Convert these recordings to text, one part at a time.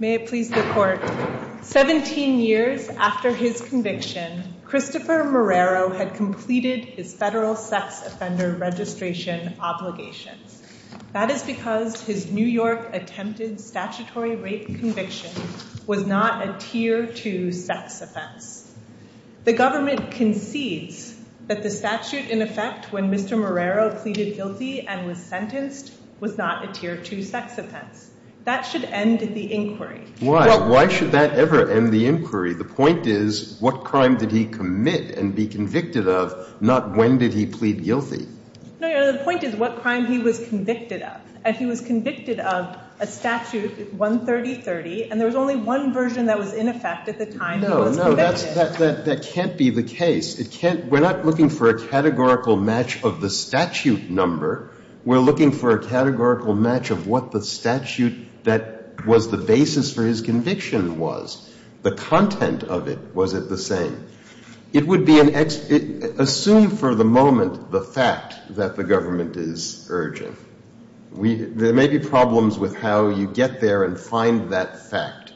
17 years after his conviction, Christopher Marrero had completed his federal sex offender registration obligations. That is because his New York attempted statutory rape conviction was not a Tier 2 sex offense. The government concedes that the statute in effect when Mr. Marrero pleaded guilty and was sentenced was not a Tier 2 sex offense. That should end the inquiry. Why? Why should that ever end the inquiry? The point is what crime did he commit and be convicted of, not when did he plead guilty. No, the point is what crime he was convicted of. He was convicted of a statute, 13030, and there was only one version that was in effect at the time he was convicted. No, no, that can't be the case. We're not looking for a categorical match of the statute number. We're looking for a categorical match of what the statute that was the basis for his conviction was. The content of it, was it the same? It would be an assume for the moment the fact that the government is urging. There may be problems with how you get there and find that fact.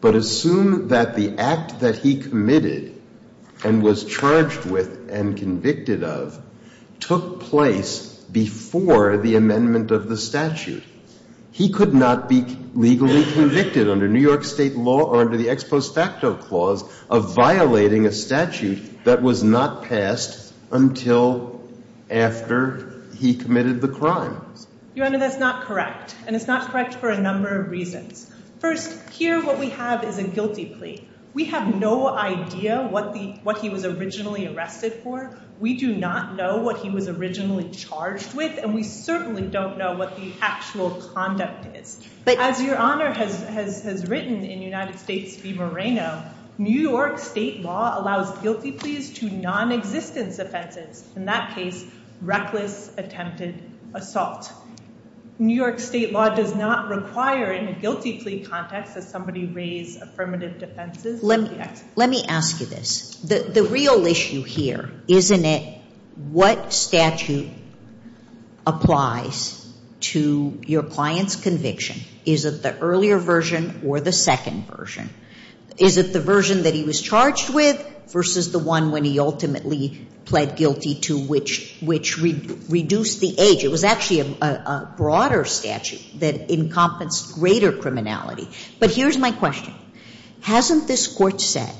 But assume that the act that he committed and was charged with and convicted of took place before the amendment of the statute. He could not be legally convicted under New York State law or under the ex post facto clause of violating a statute that was not passed until after he committed the crime. Your Honor, that's not correct. And it's not correct for a number of reasons. First, here what we have is a guilty plea. We have no idea what he was originally arrested for. We do not know what he was originally charged with, and we certainly don't know what the actual conduct is. As Your Honor has written in United States v. Moreno, New York State law allows guilty pleas to nonexistence offenses. In that case, reckless attempted assault. New York State law does not require in a guilty plea context that somebody raise affirmative defenses. Let me ask you this. The real issue here, isn't it what statute applies to your client's conviction? Is it the earlier version or the second version? Is it the version that he was charged with versus the one when he ultimately pled guilty to which reduced the age? It was actually a broader statute that encompassed greater criminality. But here's my question. Hasn't this court said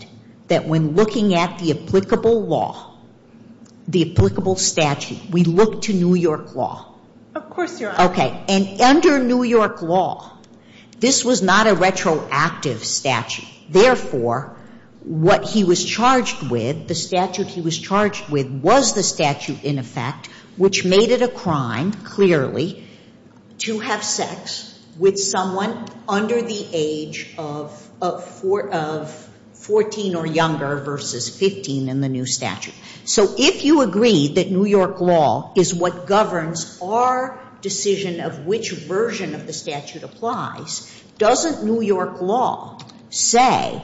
that when looking at the applicable law, the applicable statute, we look to New York law? Of course, Your Honor. Okay. And under New York law, this was not a retroactive statute. Therefore, what he was charged with, the statute he was charged with was the statute in effect, which made it a crime, clearly, to have sex with someone under the age of 14 or younger versus 15 in the new statute. So if you agree that New York law is what governs our decision of which version of the statute applies, doesn't New York law say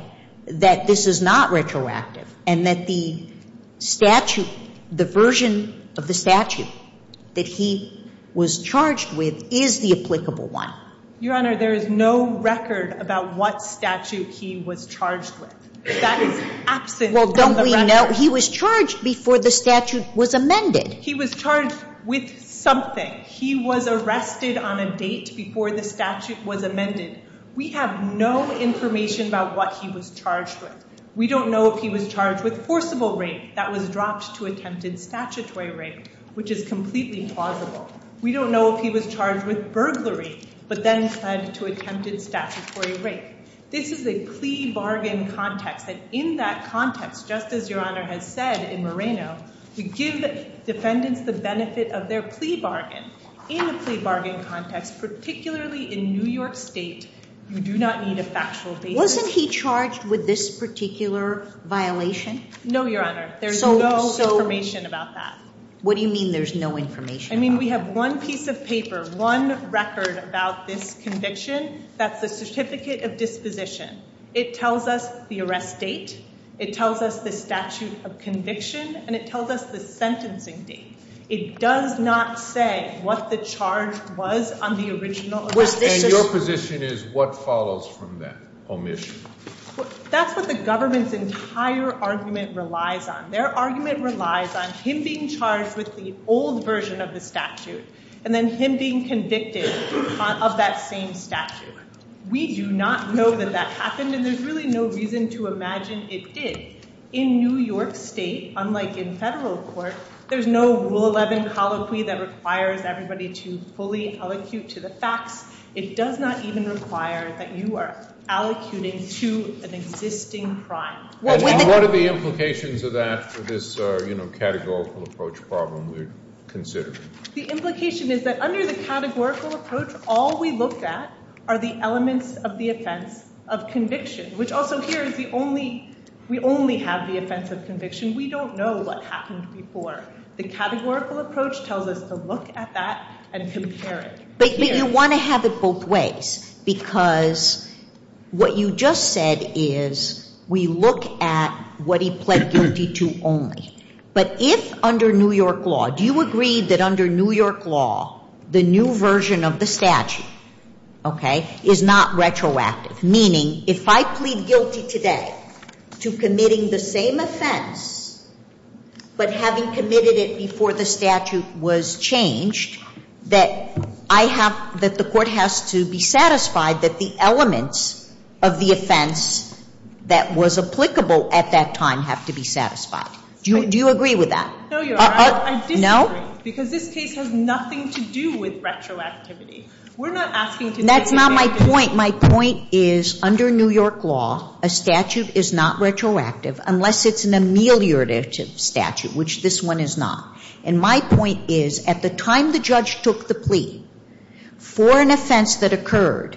that this is not retroactive and that the statute, the version of the statute that he was charged with is the applicable one? Your Honor, there is no record about what statute he was charged with. That is absent from the record. Well, don't we know? He was charged before the statute was amended. He was charged with something. He was arrested on a date before the statute was amended. We have no information about what he was charged with. We don't know if he was charged with forcible rape that was dropped to attempted statutory rape, which is completely plausible. We don't know if he was charged with burglary but then said to attempted statutory rape. This is a plea bargain context. And in that context, just as Your Honor has said in Moreno, to give defendants the benefit of their plea bargain. In a plea bargain context, particularly in New York State, you do not need a factual basis. Wasn't he charged with this particular violation? No, Your Honor. There's no information about that. What do you mean there's no information? I mean we have one piece of paper, one record about this conviction. That's the certificate of disposition. It tells us the arrest date. It tells us the statute of conviction. And it tells us the sentencing date. It does not say what the charge was on the original arrest. And your position is what follows from that omission? That's what the government's entire argument relies on. Their argument relies on him being charged with the old version of the statute and then him being convicted of that same statute. We do not know that that happened, and there's really no reason to imagine it did. In New York State, unlike in federal court, there's no Rule 11 colloquy that requires everybody to fully allocute to the facts. It does not even require that you are allocuting to an existing crime. And what are the implications of that for this categorical approach problem we're considering? The implication is that under the categorical approach, all we looked at are the elements of the offense of conviction, which also here is we only have the offense of conviction. We don't know what happened before. The categorical approach tells us to look at that and compare it. But you want to have it both ways because what you just said is we look at what he pled guilty to only. But if under New York law, do you agree that under New York law, the new version of the statute, okay, is not retroactive? Meaning if I plead guilty today to committing the same offense, but having committed it before the statute was changed, that I have, that the court has to be satisfied that the elements of the offense that was applicable at that time have to be satisfied. Do you agree with that? No, Your Honor. No? I disagree because this case has nothing to do with retroactivity. That's not my point. My point is under New York law, a statute is not retroactive unless it's an ameliorative statute, which this one is not. And my point is at the time the judge took the plea for an offense that occurred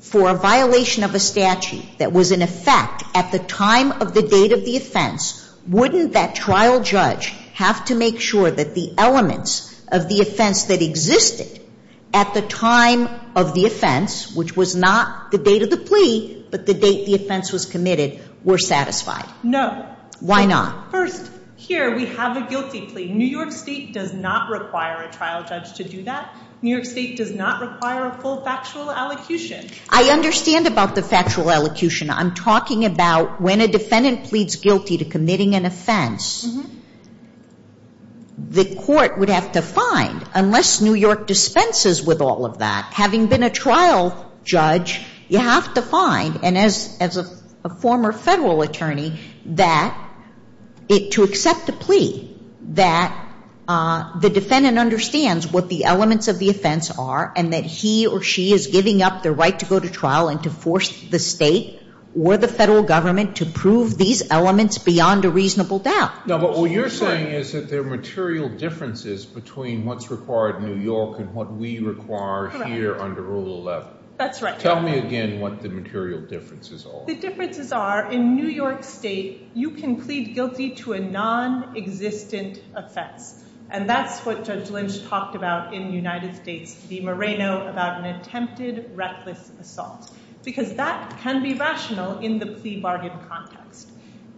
for a violation of a statute that was in effect at the time of the date of the offense, wouldn't that trial judge have to make sure that the elements of the offense that existed at the time of the offense, which was not the date of the plea, but the date the offense was committed, were satisfied? No. Why not? First, here we have a guilty plea. New York State does not require a trial judge to do that. New York State does not require a full factual elocution. I understand about the factual elocution. I'm talking about when a defendant pleads guilty to committing an offense. The court would have to find, unless New York dispenses with all of that, having been a trial judge, you have to find, and as a former federal attorney, that to accept a plea, that the defendant understands what the elements of the offense are and that he or she is giving up their right to go to trial and to force the state or the federal government to prove these elements beyond a reasonable doubt. No, but what you're saying is that there are material differences between what's required in New York and what we require here under Rule 11. That's right. Tell me again what the material differences are. The differences are, in New York State, you can plead guilty to a nonexistent offense. And that's what Judge Lynch talked about in United States v. Moreno about an attempted reckless assault. Because that can be rational in the plea bargain context.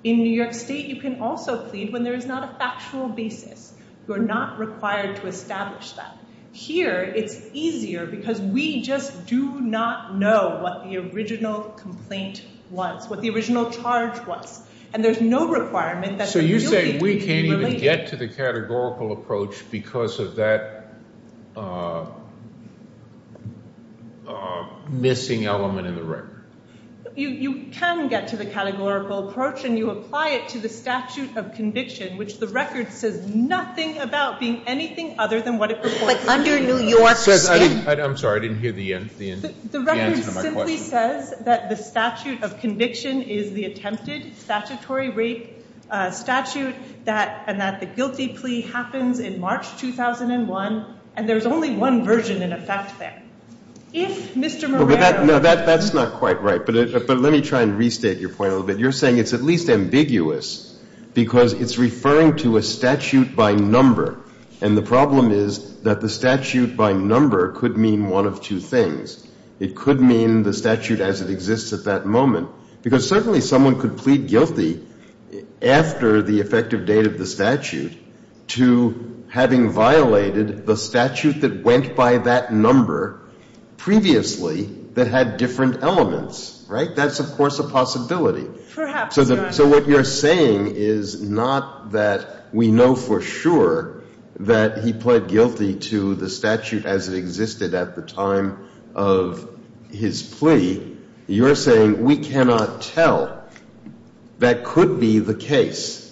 In New York State, you can also plead when there is not a factual basis. You're not required to establish that. Here, it's easier because we just do not know what the original complaint was, what the original charge was. You can get to the categorical approach because of that missing element in the record. You can get to the categorical approach, and you apply it to the statute of conviction, which the record says nothing about being anything other than what it purports to be. But under New York State? I'm sorry. I didn't hear the answer to my question. It simply says that the statute of conviction is the attempted statutory rape statute, and that the guilty plea happens in March 2001. And there's only one version in effect there. If Mr. Moreno – No, that's not quite right. But let me try and restate your point a little bit. You're saying it's at least ambiguous because it's referring to a statute by number. And the problem is that the statute by number could mean one of two things. It could mean the statute as it exists at that moment, because certainly someone could plead guilty after the effective date of the statute to having violated the statute that went by that number previously that had different elements. Right? That's, of course, a possibility. Perhaps not. So what you're saying is not that we know for sure that he pled guilty to the statute as it existed at the time of his plea. You're saying we cannot tell. That could be the case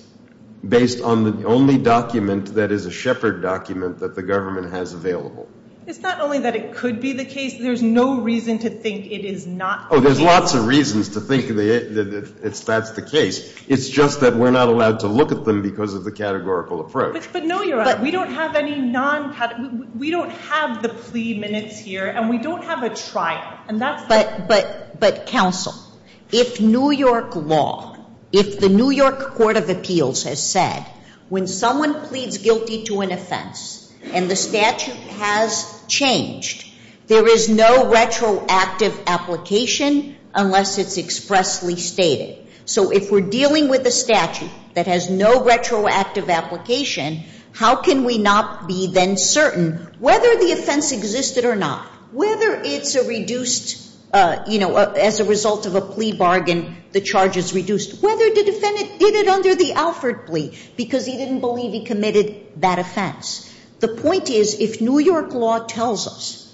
based on the only document that is a Shepard document that the government has available. It's not only that it could be the case. There's no reason to think it is not the case. It's just that we're not allowed to look at them because of the categorical approach. But, no, Your Honor, we don't have any non-categorical. We don't have the plea minutes here, and we don't have a trial. But, counsel, if New York law, if the New York Court of Appeals has said when someone pleads guilty to an offense and the statute has changed, there is no retroactive application unless it's expressly stated. So if we're dealing with a statute that has no retroactive application, how can we not be then certain whether the offense existed or not, whether it's a reduced, you know, as a result of a plea bargain, the charge is reduced, whether the defendant did it under the Alford plea because he didn't believe he committed that offense. The point is, if New York law tells us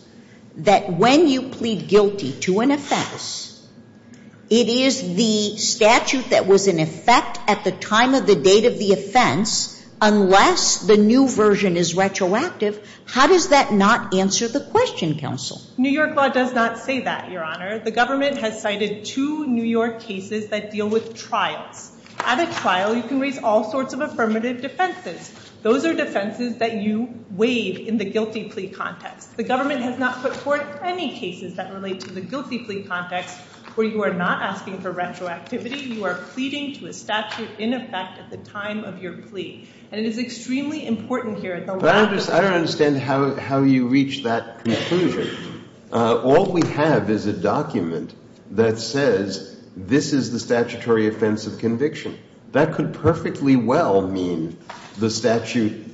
that when you plead guilty to an offense, it is the statute that was in effect at the time of the date of the offense unless the new version is retroactive, how does that not answer the question, counsel? New York law does not say that, Your Honor. The government has cited two New York cases that deal with trials. At a trial, you can raise all sorts of affirmative defenses. Those are defenses that you waive in the guilty plea context. The government has not put forth any cases that relate to the guilty plea context where you are not asking for retroactivity. You are pleading to a statute in effect at the time of your plea. And it is extremely important here. But I don't understand how you reach that conclusion. All we have is a document that says this is the statutory offense of conviction. That could perfectly well mean the statute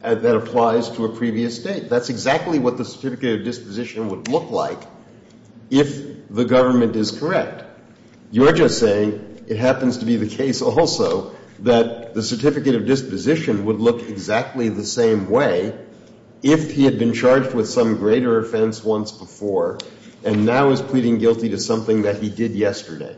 that applies to a previous date. That's exactly what the certificate of disposition would look like if the government is correct. You're just saying it happens to be the case also that the certificate of disposition would look exactly the same way if he had been charged with some greater offense once before and now is pleading guilty to something that he did yesterday.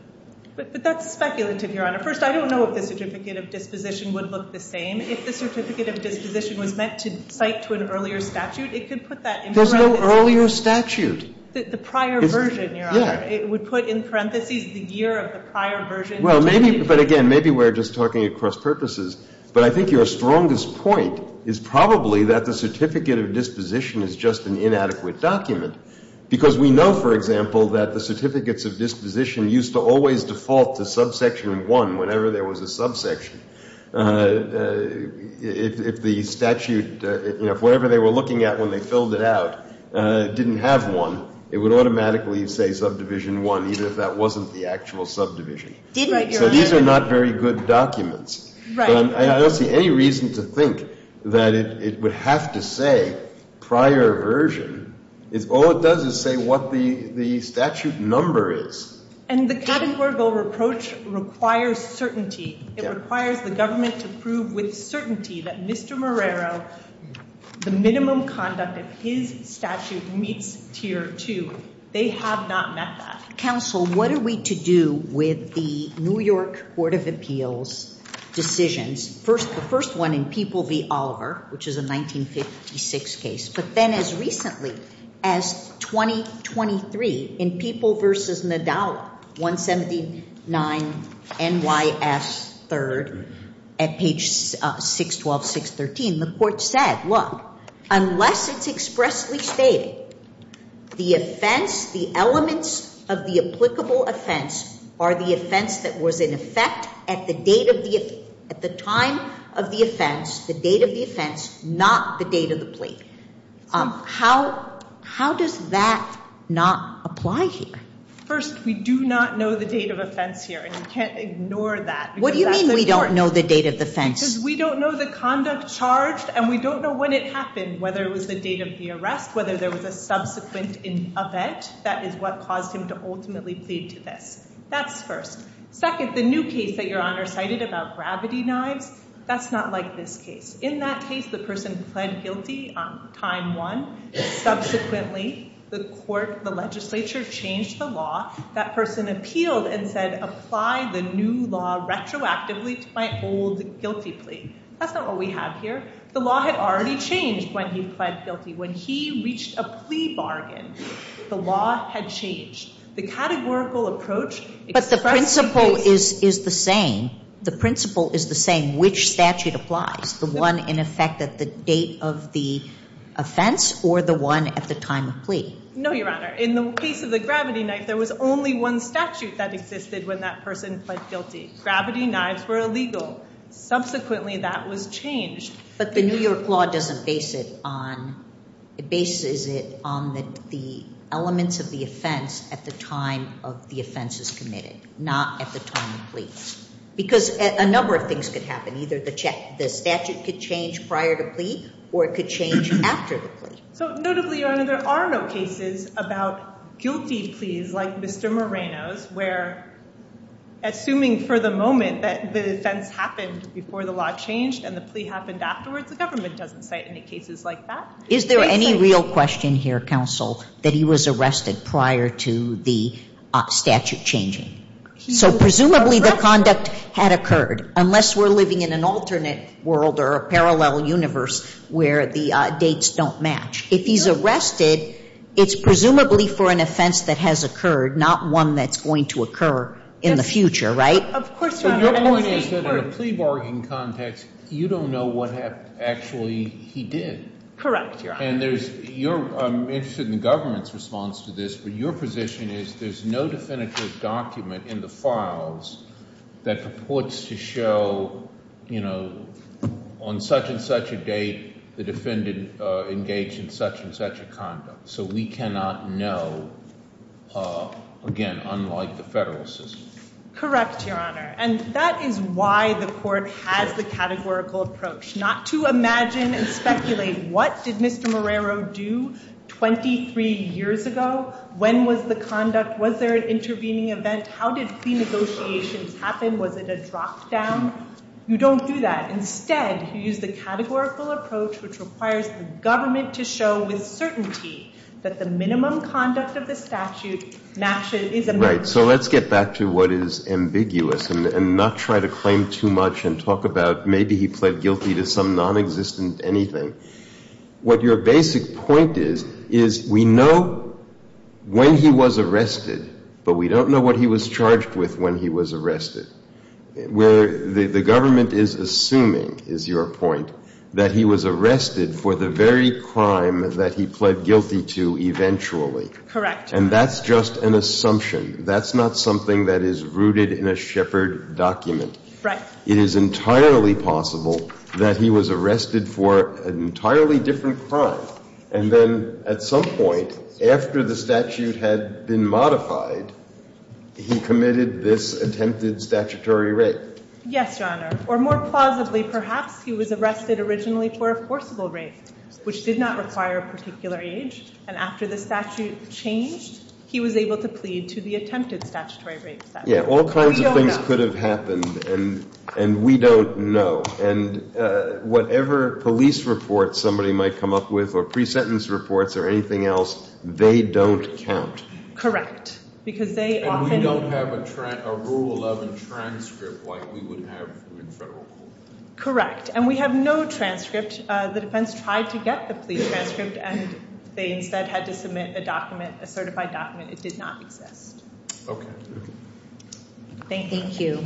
But that's speculative, Your Honor. First, I don't know if the certificate of disposition would look the same. If the certificate of disposition was meant to cite to an earlier statute, it could put that in parentheses. There's no earlier statute. The prior version, Your Honor. Yeah. It would put in parentheses the year of the prior version. Well, maybe, but again, maybe we're just talking across purposes. But I think your strongest point is probably that the certificate of disposition is just an inadequate document because we know, for example, that the certificates of disposition used to always default to subsection 1 whenever there was a subsection. If the statute, you know, if whatever they were looking at when they filled it out didn't have 1, it would automatically say subdivision 1 even if that wasn't the actual subdivision. So these are not very good documents. Right. But I don't see any reason to think that it would have to say prior version. All it does is say what the statute number is. And the Kavanaugh-Gorbel reproach requires certainty. It requires the government to prove with certainty that Mr. Marrero, the minimum conduct of his statute meets tier 2. They have not met that. Counsel, what are we to do with the New York Court of Appeals decisions, the first one in People v. Oliver, which is a 1956 case, but then as recently as 2023 in People v. Nadala, 179 N.Y.S. 3rd at page 612, 613, the court said, look, unless it's expressly stated the offense, the elements of the applicable offense are the offense that was in effect at the time of the offense, the date of the offense, not the date of the plea. How does that not apply here? First, we do not know the date of offense here, and you can't ignore that. What do you mean we don't know the date of the offense? Because we don't know the conduct charged, and we don't know when it happened, whether it was the date of the arrest, whether there was a subsequent event. That is what caused him to ultimately plead to this. That's first. Second, the new case that Your Honor cited about gravity knives, that's not like this case. In that case, the person pled guilty on time one. Subsequently, the court, the legislature, changed the law. That person appealed and said, apply the new law retroactively to my old guilty plea. That's not what we have here. The law had already changed when he pled guilty. When he reached a plea bargain, the law had changed. The categorical approach expressed the case. But the principle is the same. The principle is the same, which statute applies, the one in effect at the date of the offense or the one at the time of plea? No, Your Honor. In the case of the gravity knife, there was only one statute that existed when that person pled guilty. Gravity knives were illegal. Subsequently, that was changed. But the New York law doesn't base it on, it bases it on the elements of the offense at the time of the offenses committed, not at the time of plea. Because a number of things could happen. Either the statute could change prior to plea, or it could change after the plea. So notably, Your Honor, there are no cases about guilty pleas like Mr. Moreno's where assuming for the moment that the offense happened before the law changed and the plea happened afterwards, the government doesn't cite any cases like that? Is there any real question here, counsel, that he was arrested prior to the statute changing? So presumably the conduct had occurred, unless we're living in an alternate world or a parallel universe where the dates don't match. If he's arrested, it's presumably for an offense that has occurred, not one that's going to occur in the future, right? Of course, Your Honor. But your point is that in a plea bargaining context, you don't know what actually he did. Correct, Your Honor. And there's your, I'm interested in the government's response to this, but your position is there's no definitive document in the files that purports to show, you know, on such and such a date the defendant engaged in such and such a conduct. So we cannot know, again, unlike the federal system. Correct, Your Honor. And that is why the court has the categorical approach, not to imagine and speculate what did Mr. Marrero do 23 years ago? When was the conduct? Was there an intervening event? How did plea negotiations happen? Was it a drop down? You don't do that. Instead, you use the categorical approach, which requires the government to show with certainty that the minimum conduct of the statute matches, is a match. Right. So let's get back to what is ambiguous and not try to claim too much and talk about maybe he pled guilty to some nonexistent anything. What your basic point is, is we know when he was arrested, but we don't know what he was charged with when he was arrested. The government is assuming, is your point, that he was arrested for the very crime that he pled guilty to eventually. Correct. And that's just an assumption. That's not something that is rooted in a Shepard document. Right. It is entirely possible that he was arrested for an entirely different crime, and then at some point after the statute had been modified, he committed this attempted statutory rape. Yes, Your Honor. Or more plausibly, perhaps he was arrested originally for a forcible rape, which did not require a particular age, and after the statute changed, he was able to plead to the attempted statutory rape statute. All kinds of things could have happened, and we don't know. And whatever police report somebody might come up with or pre-sentence reports or anything else, they don't count. Correct. And we don't have a Rule 11 transcript like we would have in federal court. Correct. And we have no transcript. The defense tried to get the plea transcript, and they instead had to submit a document, a certified document. It did not exist. Okay. Thank you.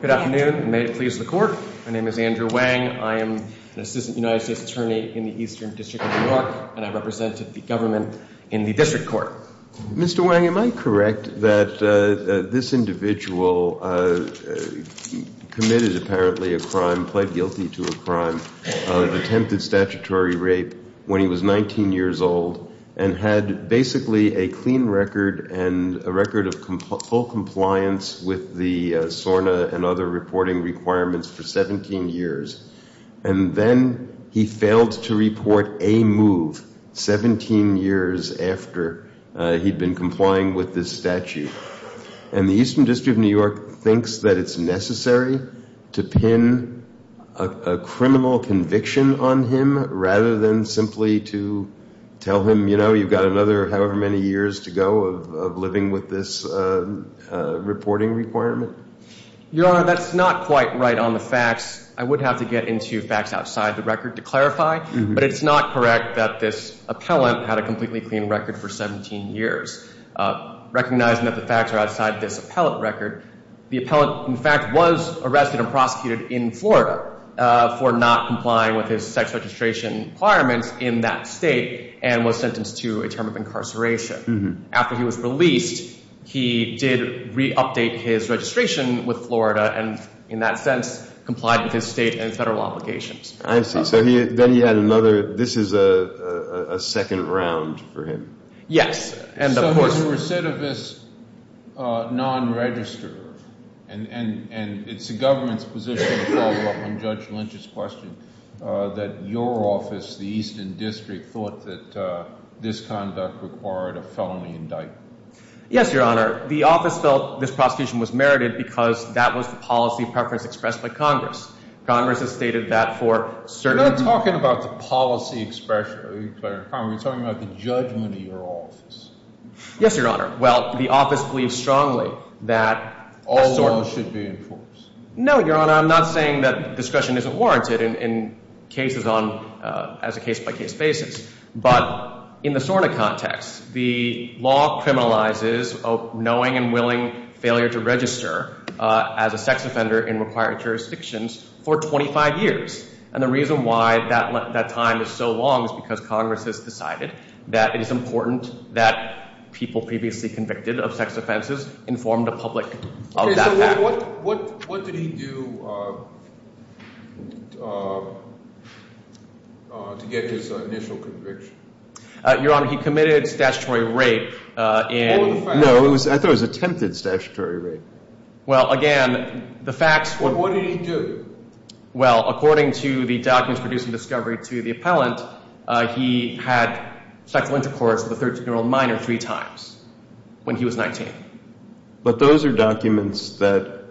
Good afternoon, and may it please the Court. My name is Andrew Wang. I am an assistant United States attorney in the Eastern District of New York, and I represent the government in the district court. Mr. Wang, am I correct that this individual committed apparently a crime, pled guilty to a crime of attempted statutory rape when he was 19 years old and had basically a clean record and a record of full compliance with the SORNA and other reporting requirements for 17 years, and then he failed to report a move 17 years after he'd been complying with this statute? And the Eastern District of New York thinks that it's necessary to pin a criminal conviction on him rather than simply to tell him, you know, you've got another however many years to go of living with this reporting requirement? Your Honor, that's not quite right on the facts. I would have to get into facts outside the record to clarify, but it's not correct that this appellant had a completely clean record for 17 years. Recognizing that the facts are outside this appellant record, the appellant, in fact, was arrested and prosecuted in Florida for not complying with his sex registration requirements in that state and was sentenced to a term of incarceration. After he was released, he did re-update his registration with Florida and, in that sense, complied with his state and federal obligations. I see. So then he had another—this is a second round for him. Yes, and of course— So he was a recidivist non-register, and it's the government's position to follow up on Judge Lynch's question that your office, the Eastern District, thought that this conduct required a felony indictment. Yes, Your Honor. The office felt this prosecution was merited because that was the policy preference expressed by Congress. Congress has stated that for certain— You're not talking about the policy expression, Your Honor. You're talking about the judgment of your office. Yes, Your Honor. Well, the office believes strongly that— All laws should be enforced. No, Your Honor. I'm not saying that discretion isn't warranted in cases on—as a case-by-case basis, but in the SORNA context, the law criminalizes knowing and willing failure to register as a sex offender in required jurisdictions for 25 years. And the reason why that time is so long is because Congress has decided that it is important that people previously convicted of sex offenses inform the public of that fact. What did he do to get his initial conviction? Your Honor, he committed statutory rape in— No, I thought it was attempted statutory rape. Well, again, the facts— What did he do? Well, according to the documents producing discovery to the appellant, he had sexual intercourse with a 13-year-old minor three times when he was 19. But those are documents that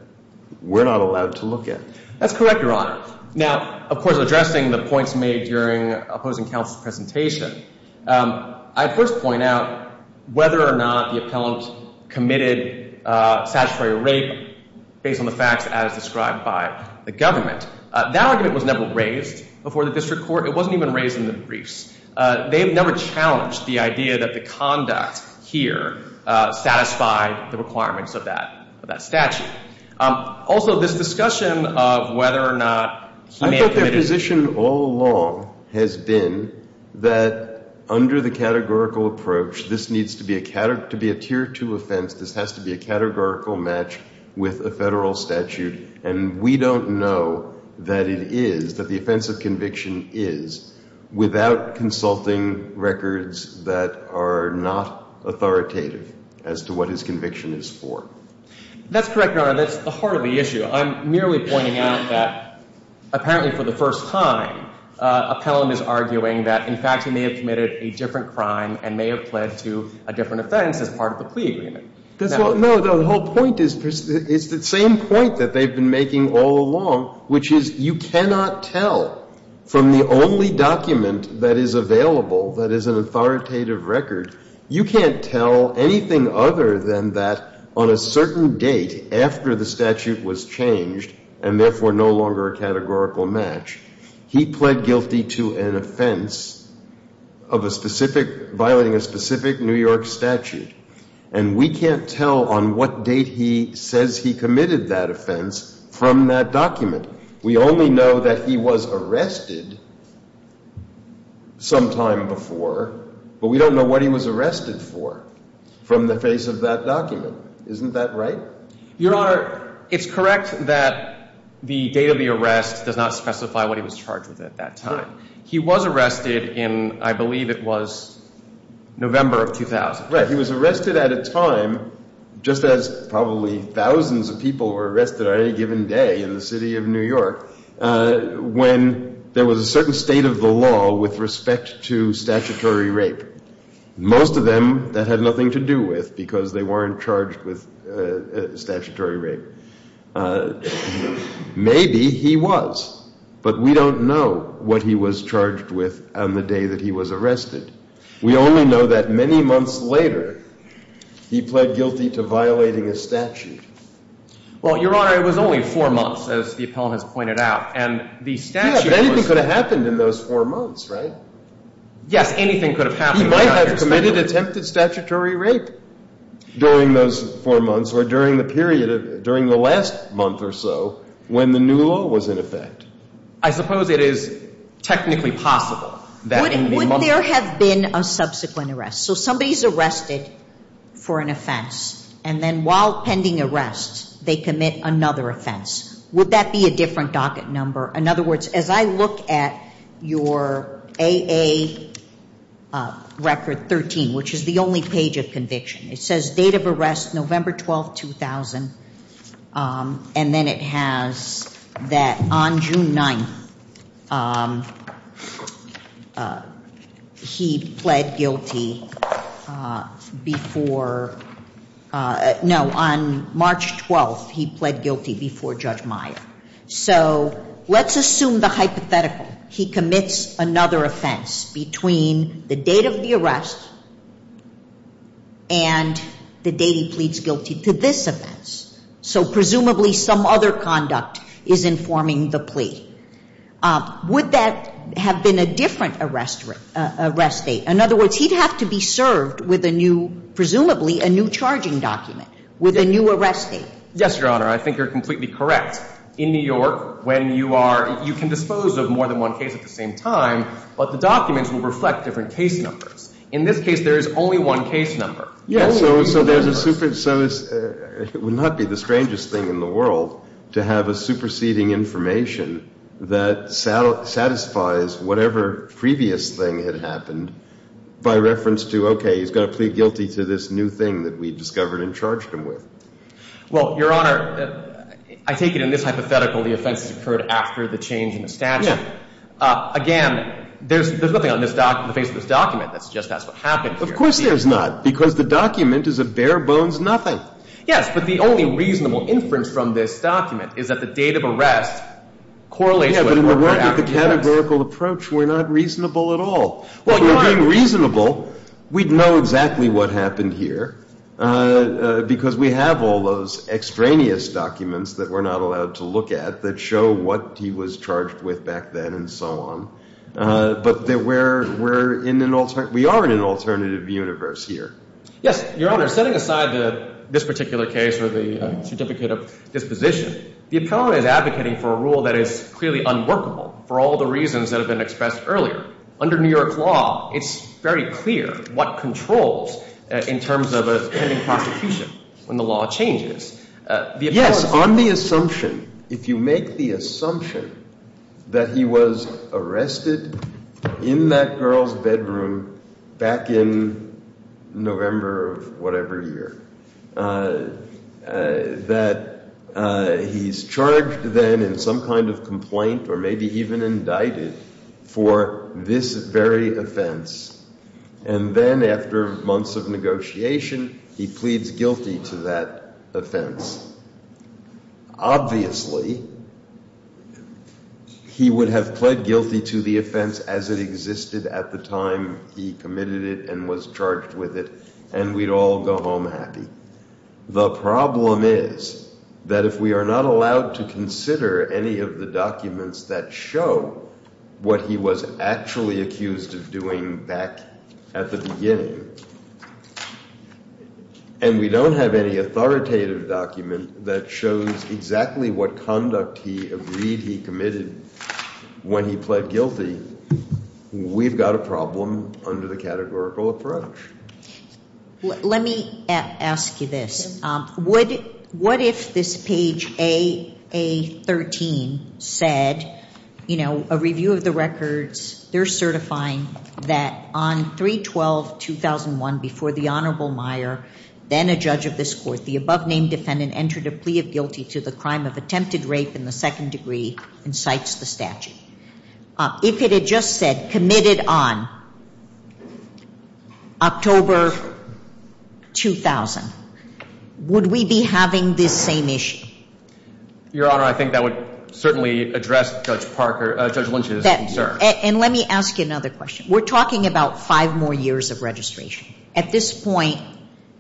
we're not allowed to look at. That's correct, Your Honor. Now, of course, addressing the points made during opposing counsel's presentation, I'd first point out whether or not the appellant committed statutory rape based on the facts as described by the government. That argument was never raised before the district court. It wasn't even raised in the briefs. They've never challenged the idea that the conduct here satisfied the requirements of that statute. Also, this discussion of whether or not he may have committed— I think their position all along has been that under the categorical approach, this needs to be a tier two offense. This has to be a categorical match with a federal statute. And we don't know that it is, that the offense of conviction is, without consulting records that are not authoritative as to what his conviction is for. That's correct, Your Honor. That's the heart of the issue. I'm merely pointing out that apparently for the first time, appellant is arguing that, in fact, he may have committed a different crime and may have pled to a different offense as part of the plea agreement. No, the whole point is the same point that they've been making all along, which is you cannot tell from the only document that is available that is an authoritative record, you can't tell anything other than that on a certain date after the statute was changed and therefore no longer a categorical match, he pled guilty to an offense of a specific—violating a specific New York statute. And we can't tell on what date he says he committed that offense from that document. We only know that he was arrested sometime before, but we don't know what he was arrested for from the face of that document. Isn't that right? Your Honor, it's correct that the date of the arrest does not specify what he was charged with at that time. He was arrested in, I believe it was November of 2000. Right, he was arrested at a time, just as probably thousands of people were arrested on any given day in the city of New York, when there was a certain state of the law with respect to statutory rape. Most of them, that had nothing to do with because they weren't charged with statutory rape. Maybe he was, but we don't know what he was charged with on the day that he was arrested. We only know that many months later, he pled guilty to violating a statute. Well, Your Honor, it was only four months, as the appellant has pointed out. And the statute was— Yeah, but anything could have happened in those four months, right? Yes, anything could have happened. He might have committed attempted statutory rape during those four months or during the period of—during the last month or so when the new law was in effect. I suppose it is technically possible that in the months— Would there have been a subsequent arrest? So somebody is arrested for an offense, and then while pending arrest, they commit another offense. Would that be a different docket number? In other words, as I look at your AA Record 13, which is the only page of conviction, it says date of arrest, November 12, 2000. And then it has that on June 9th, he pled guilty before— No, on March 12th, he pled guilty before Judge Meyer. So let's assume the hypothetical. He commits another offense between the date of the arrest and the date he pleads guilty to this offense. So presumably some other conduct is informing the plea. Would that have been a different arrest date? In other words, he'd have to be served with a new—presumably a new charging document with a new arrest date. Yes, Your Honor. I think you're completely correct. In New York, when you are—you can dispose of more than one case at the same time, but the documents will reflect different case numbers. In this case, there is only one case number. Yes, so there's a—so it would not be the strangest thing in the world to have a superseding information that satisfies whatever previous thing had happened by reference to, okay, he's going to plead guilty to this new thing that we discovered and charged him with. Well, Your Honor, I take it in this hypothetical the offense occurred after the change in the statute. Yeah. Again, there's nothing on this doc—the face of this document that suggests that's what happened here. Of course there's not, because the document is a bare-bones nothing. Yes, but the only reasonable inference from this document is that the date of arrest correlates with— Yeah, but in the world of the categorical approach, we're not reasonable at all. Well, Your Honor— We have all those extraneous documents that we're not allowed to look at that show what he was charged with back then and so on, but we're in an—we are in an alternative universe here. Yes, Your Honor. Setting aside this particular case or the certificate of disposition, the appellant is advocating for a rule that is clearly unworkable for all the reasons that have been expressed earlier. Under New York law, it's very clear what controls in terms of a pending prosecution when the law changes. Yes, on the assumption, if you make the assumption that he was arrested in that girl's bedroom back in November of whatever year, that he's charged then in some kind of complaint or maybe even indicted for this very offense, and then after months of negotiation, he pleads guilty to that offense. Obviously, he would have pled guilty to the offense as it existed at the time he committed it and was charged with it, and we'd all go home happy. The problem is that if we are not allowed to consider any of the documents that show what he was actually accused of doing back at the beginning, and we don't have any authoritative document that shows exactly what conduct he agreed he committed when he pled guilty, we've got a problem under the categorical approach. Let me ask you this. What if this page A13 said, you know, a review of the records, they're certifying that on 3-12-2001 before the Honorable Meyer, then a judge of this court, the above-named defendant entered a plea of guilty to the crime of attempted rape in the second degree and cites the statute. If it had just said committed on October 2000, would we be having this same issue? Your Honor, I think that would certainly address Judge Lynch's concern. And let me ask you another question. We're talking about five more years of registration. At this point,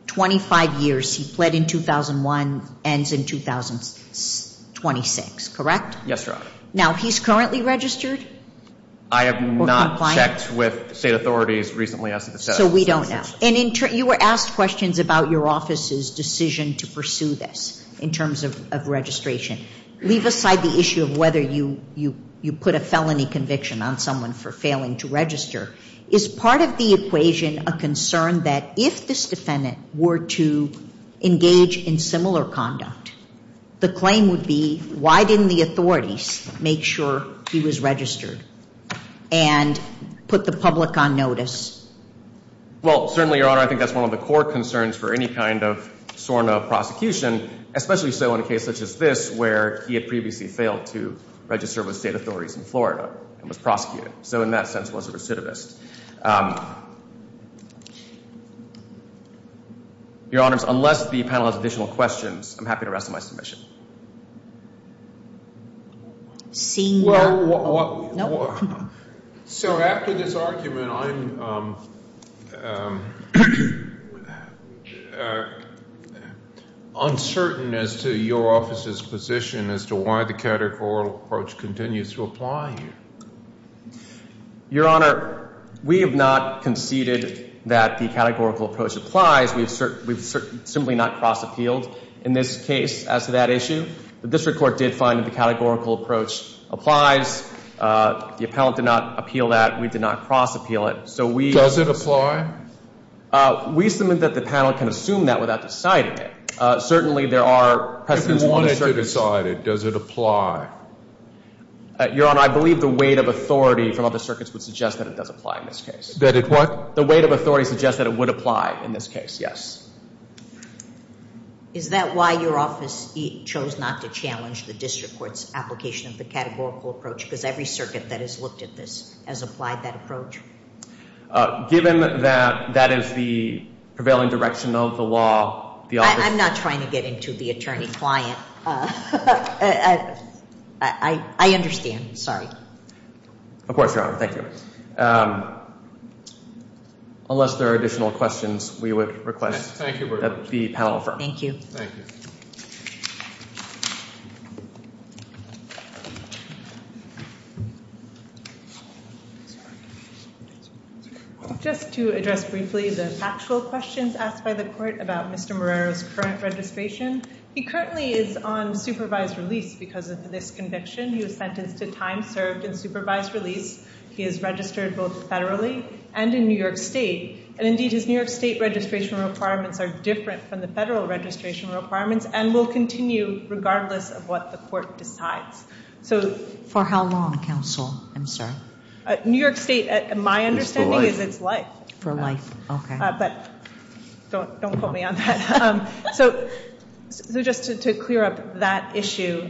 25 years, he pled in 2001, ends in 2026, correct? Yes, Your Honor. Now, he's currently registered or compliant? I have not checked with state authorities recently as to the statute. So we don't know. And you were asked questions about your office's decision to pursue this in terms of registration. Leave aside the issue of whether you put a felony conviction on someone for failing to register. Is part of the equation a concern that if this defendant were to engage in similar conduct, the claim would be why didn't the authorities make sure he was registered and put the public on notice? Well, certainly, Your Honor, I think that's one of the core concerns for any kind of SORNA prosecution, especially so in a case such as this where he had previously failed to register with state authorities in Florida and was prosecuted. So in that sense, he was a recidivist. Your Honors, unless the panel has additional questions, I'm happy to rest my submission. Seeing none. So after this argument, I'm uncertain as to your office's position as to why the categorical approach continues to apply here. Your Honor, we have not conceded that the categorical approach applies. We've simply not cross-appealed in this case as to that issue. The district court did find that the categorical approach applies. The appellant did not appeal that. We did not cross-appeal it. Does it apply? We submit that the panel can assume that without deciding it. Certainly, there are precedents. If you wanted to decide it, does it apply? Your Honor, I believe the weight of authority from other circuits would suggest that it does apply in this case. That it would? The weight of authority suggests that it would apply in this case, yes. Is that why your office chose not to challenge the district court's application of the categorical approach? Because every circuit that has looked at this has applied that approach? Given that that is the prevailing direction of the law, the office— I'm not trying to get into the attorney-client. I understand. Sorry. Of course, Your Honor. Thank you. Unless there are additional questions, we would request that the panel affirm. Thank you. Thank you. Just to address briefly the factual questions asked by the court about Mr. Morero's current registration, he currently is on supervised release because of this conviction. He was sentenced to time served in supervised release. He is registered both federally and in New York State. And indeed, his New York State registration requirements are different from the federal registration requirements and will continue regardless of what the court decides. For how long, counsel? I'm sorry? New York State, my understanding is it's life. For life, okay. But don't quote me on that. So just to clear up that issue,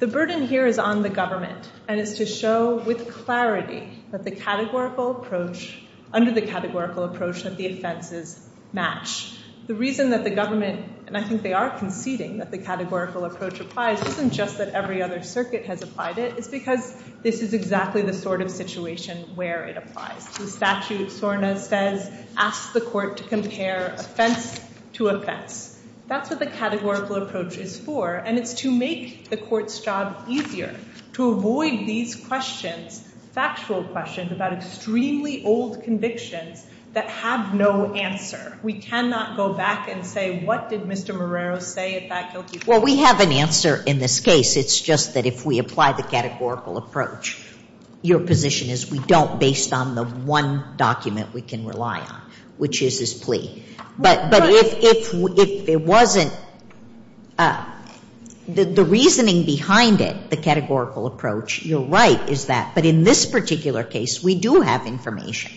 the burden here is on the government and is to show with clarity that the categorical approach, under the categorical approach that the offenses match. The reason that the government, and I think they are conceding that the categorical approach applies, isn't just that every other circuit has applied it. It's because this is exactly the sort of situation where it applies. The statute, SORNA says, asks the court to compare offense to offense. That's what the categorical approach is for, and it's to make the court's job easier, to avoid these questions, factual questions about extremely old convictions that have no answer. We cannot go back and say, what did Mr. Morero say at that guilty plea? Well, we have an answer in this case. It's just that if we apply the categorical approach, your position is we don't based on the one document we can rely on, which is his plea. But if it wasn't, the reasoning behind it, the categorical approach, you're right, is that. But in this particular case, we do have information.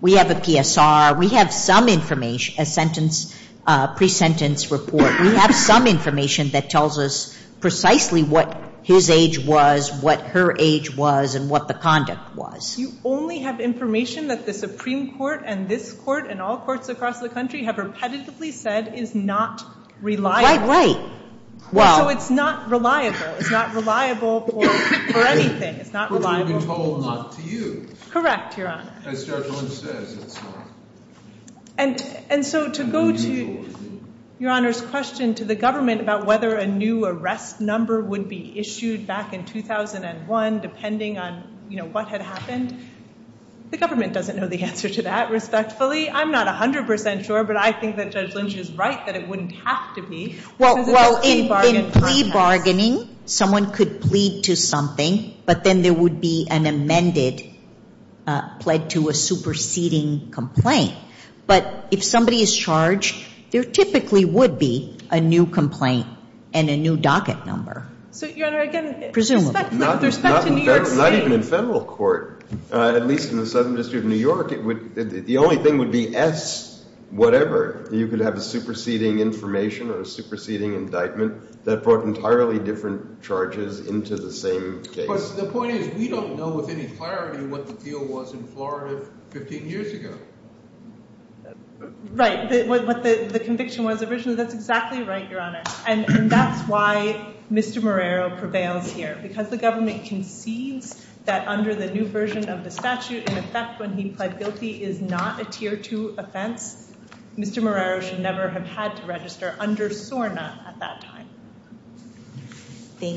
We have a PSR. We have some information, a sentence, pre-sentence report. We have some information that tells us precisely what his age was, what her age was, and what the conduct was. You only have information that the Supreme Court and this Court and all courts across the country have repetitively said is not reliable. Right, right. Well. So it's not reliable. It's not reliable for anything. It's not reliable. But it will be told not to you. Correct, Your Honor. As Stewart Cohen says, it's not. And so to go to Your Honor's question to the government about whether a new arrest number would be issued back in 2001, depending on what had happened, the government doesn't know the answer to that, respectfully. I'm not 100% sure, but I think that Judge Lynch is right that it wouldn't have to be. Well, in plea bargaining, someone could plead to something, but then there would be an amended, pled to a superseding complaint. But if somebody is charged, there typically would be a new complaint and a new docket number. So, Your Honor, again. Presumably. With respect to New York State. Not even in Federal court, at least in the Southern District of New York, the only thing would be S whatever. You could have a superseding information or a superseding indictment that brought entirely different charges into the same case. The point is, we don't know with any clarity what the deal was in Florida 15 years ago. Right. What the conviction was originally. That's exactly right, Your Honor. And that's why Mr. Marrero prevails here. Because the government concedes that under the new version of the statute, in effect, when he pled guilty, is not a tier two offense. Mr. Marrero should never have had to register under SORNA at that time. Thank you.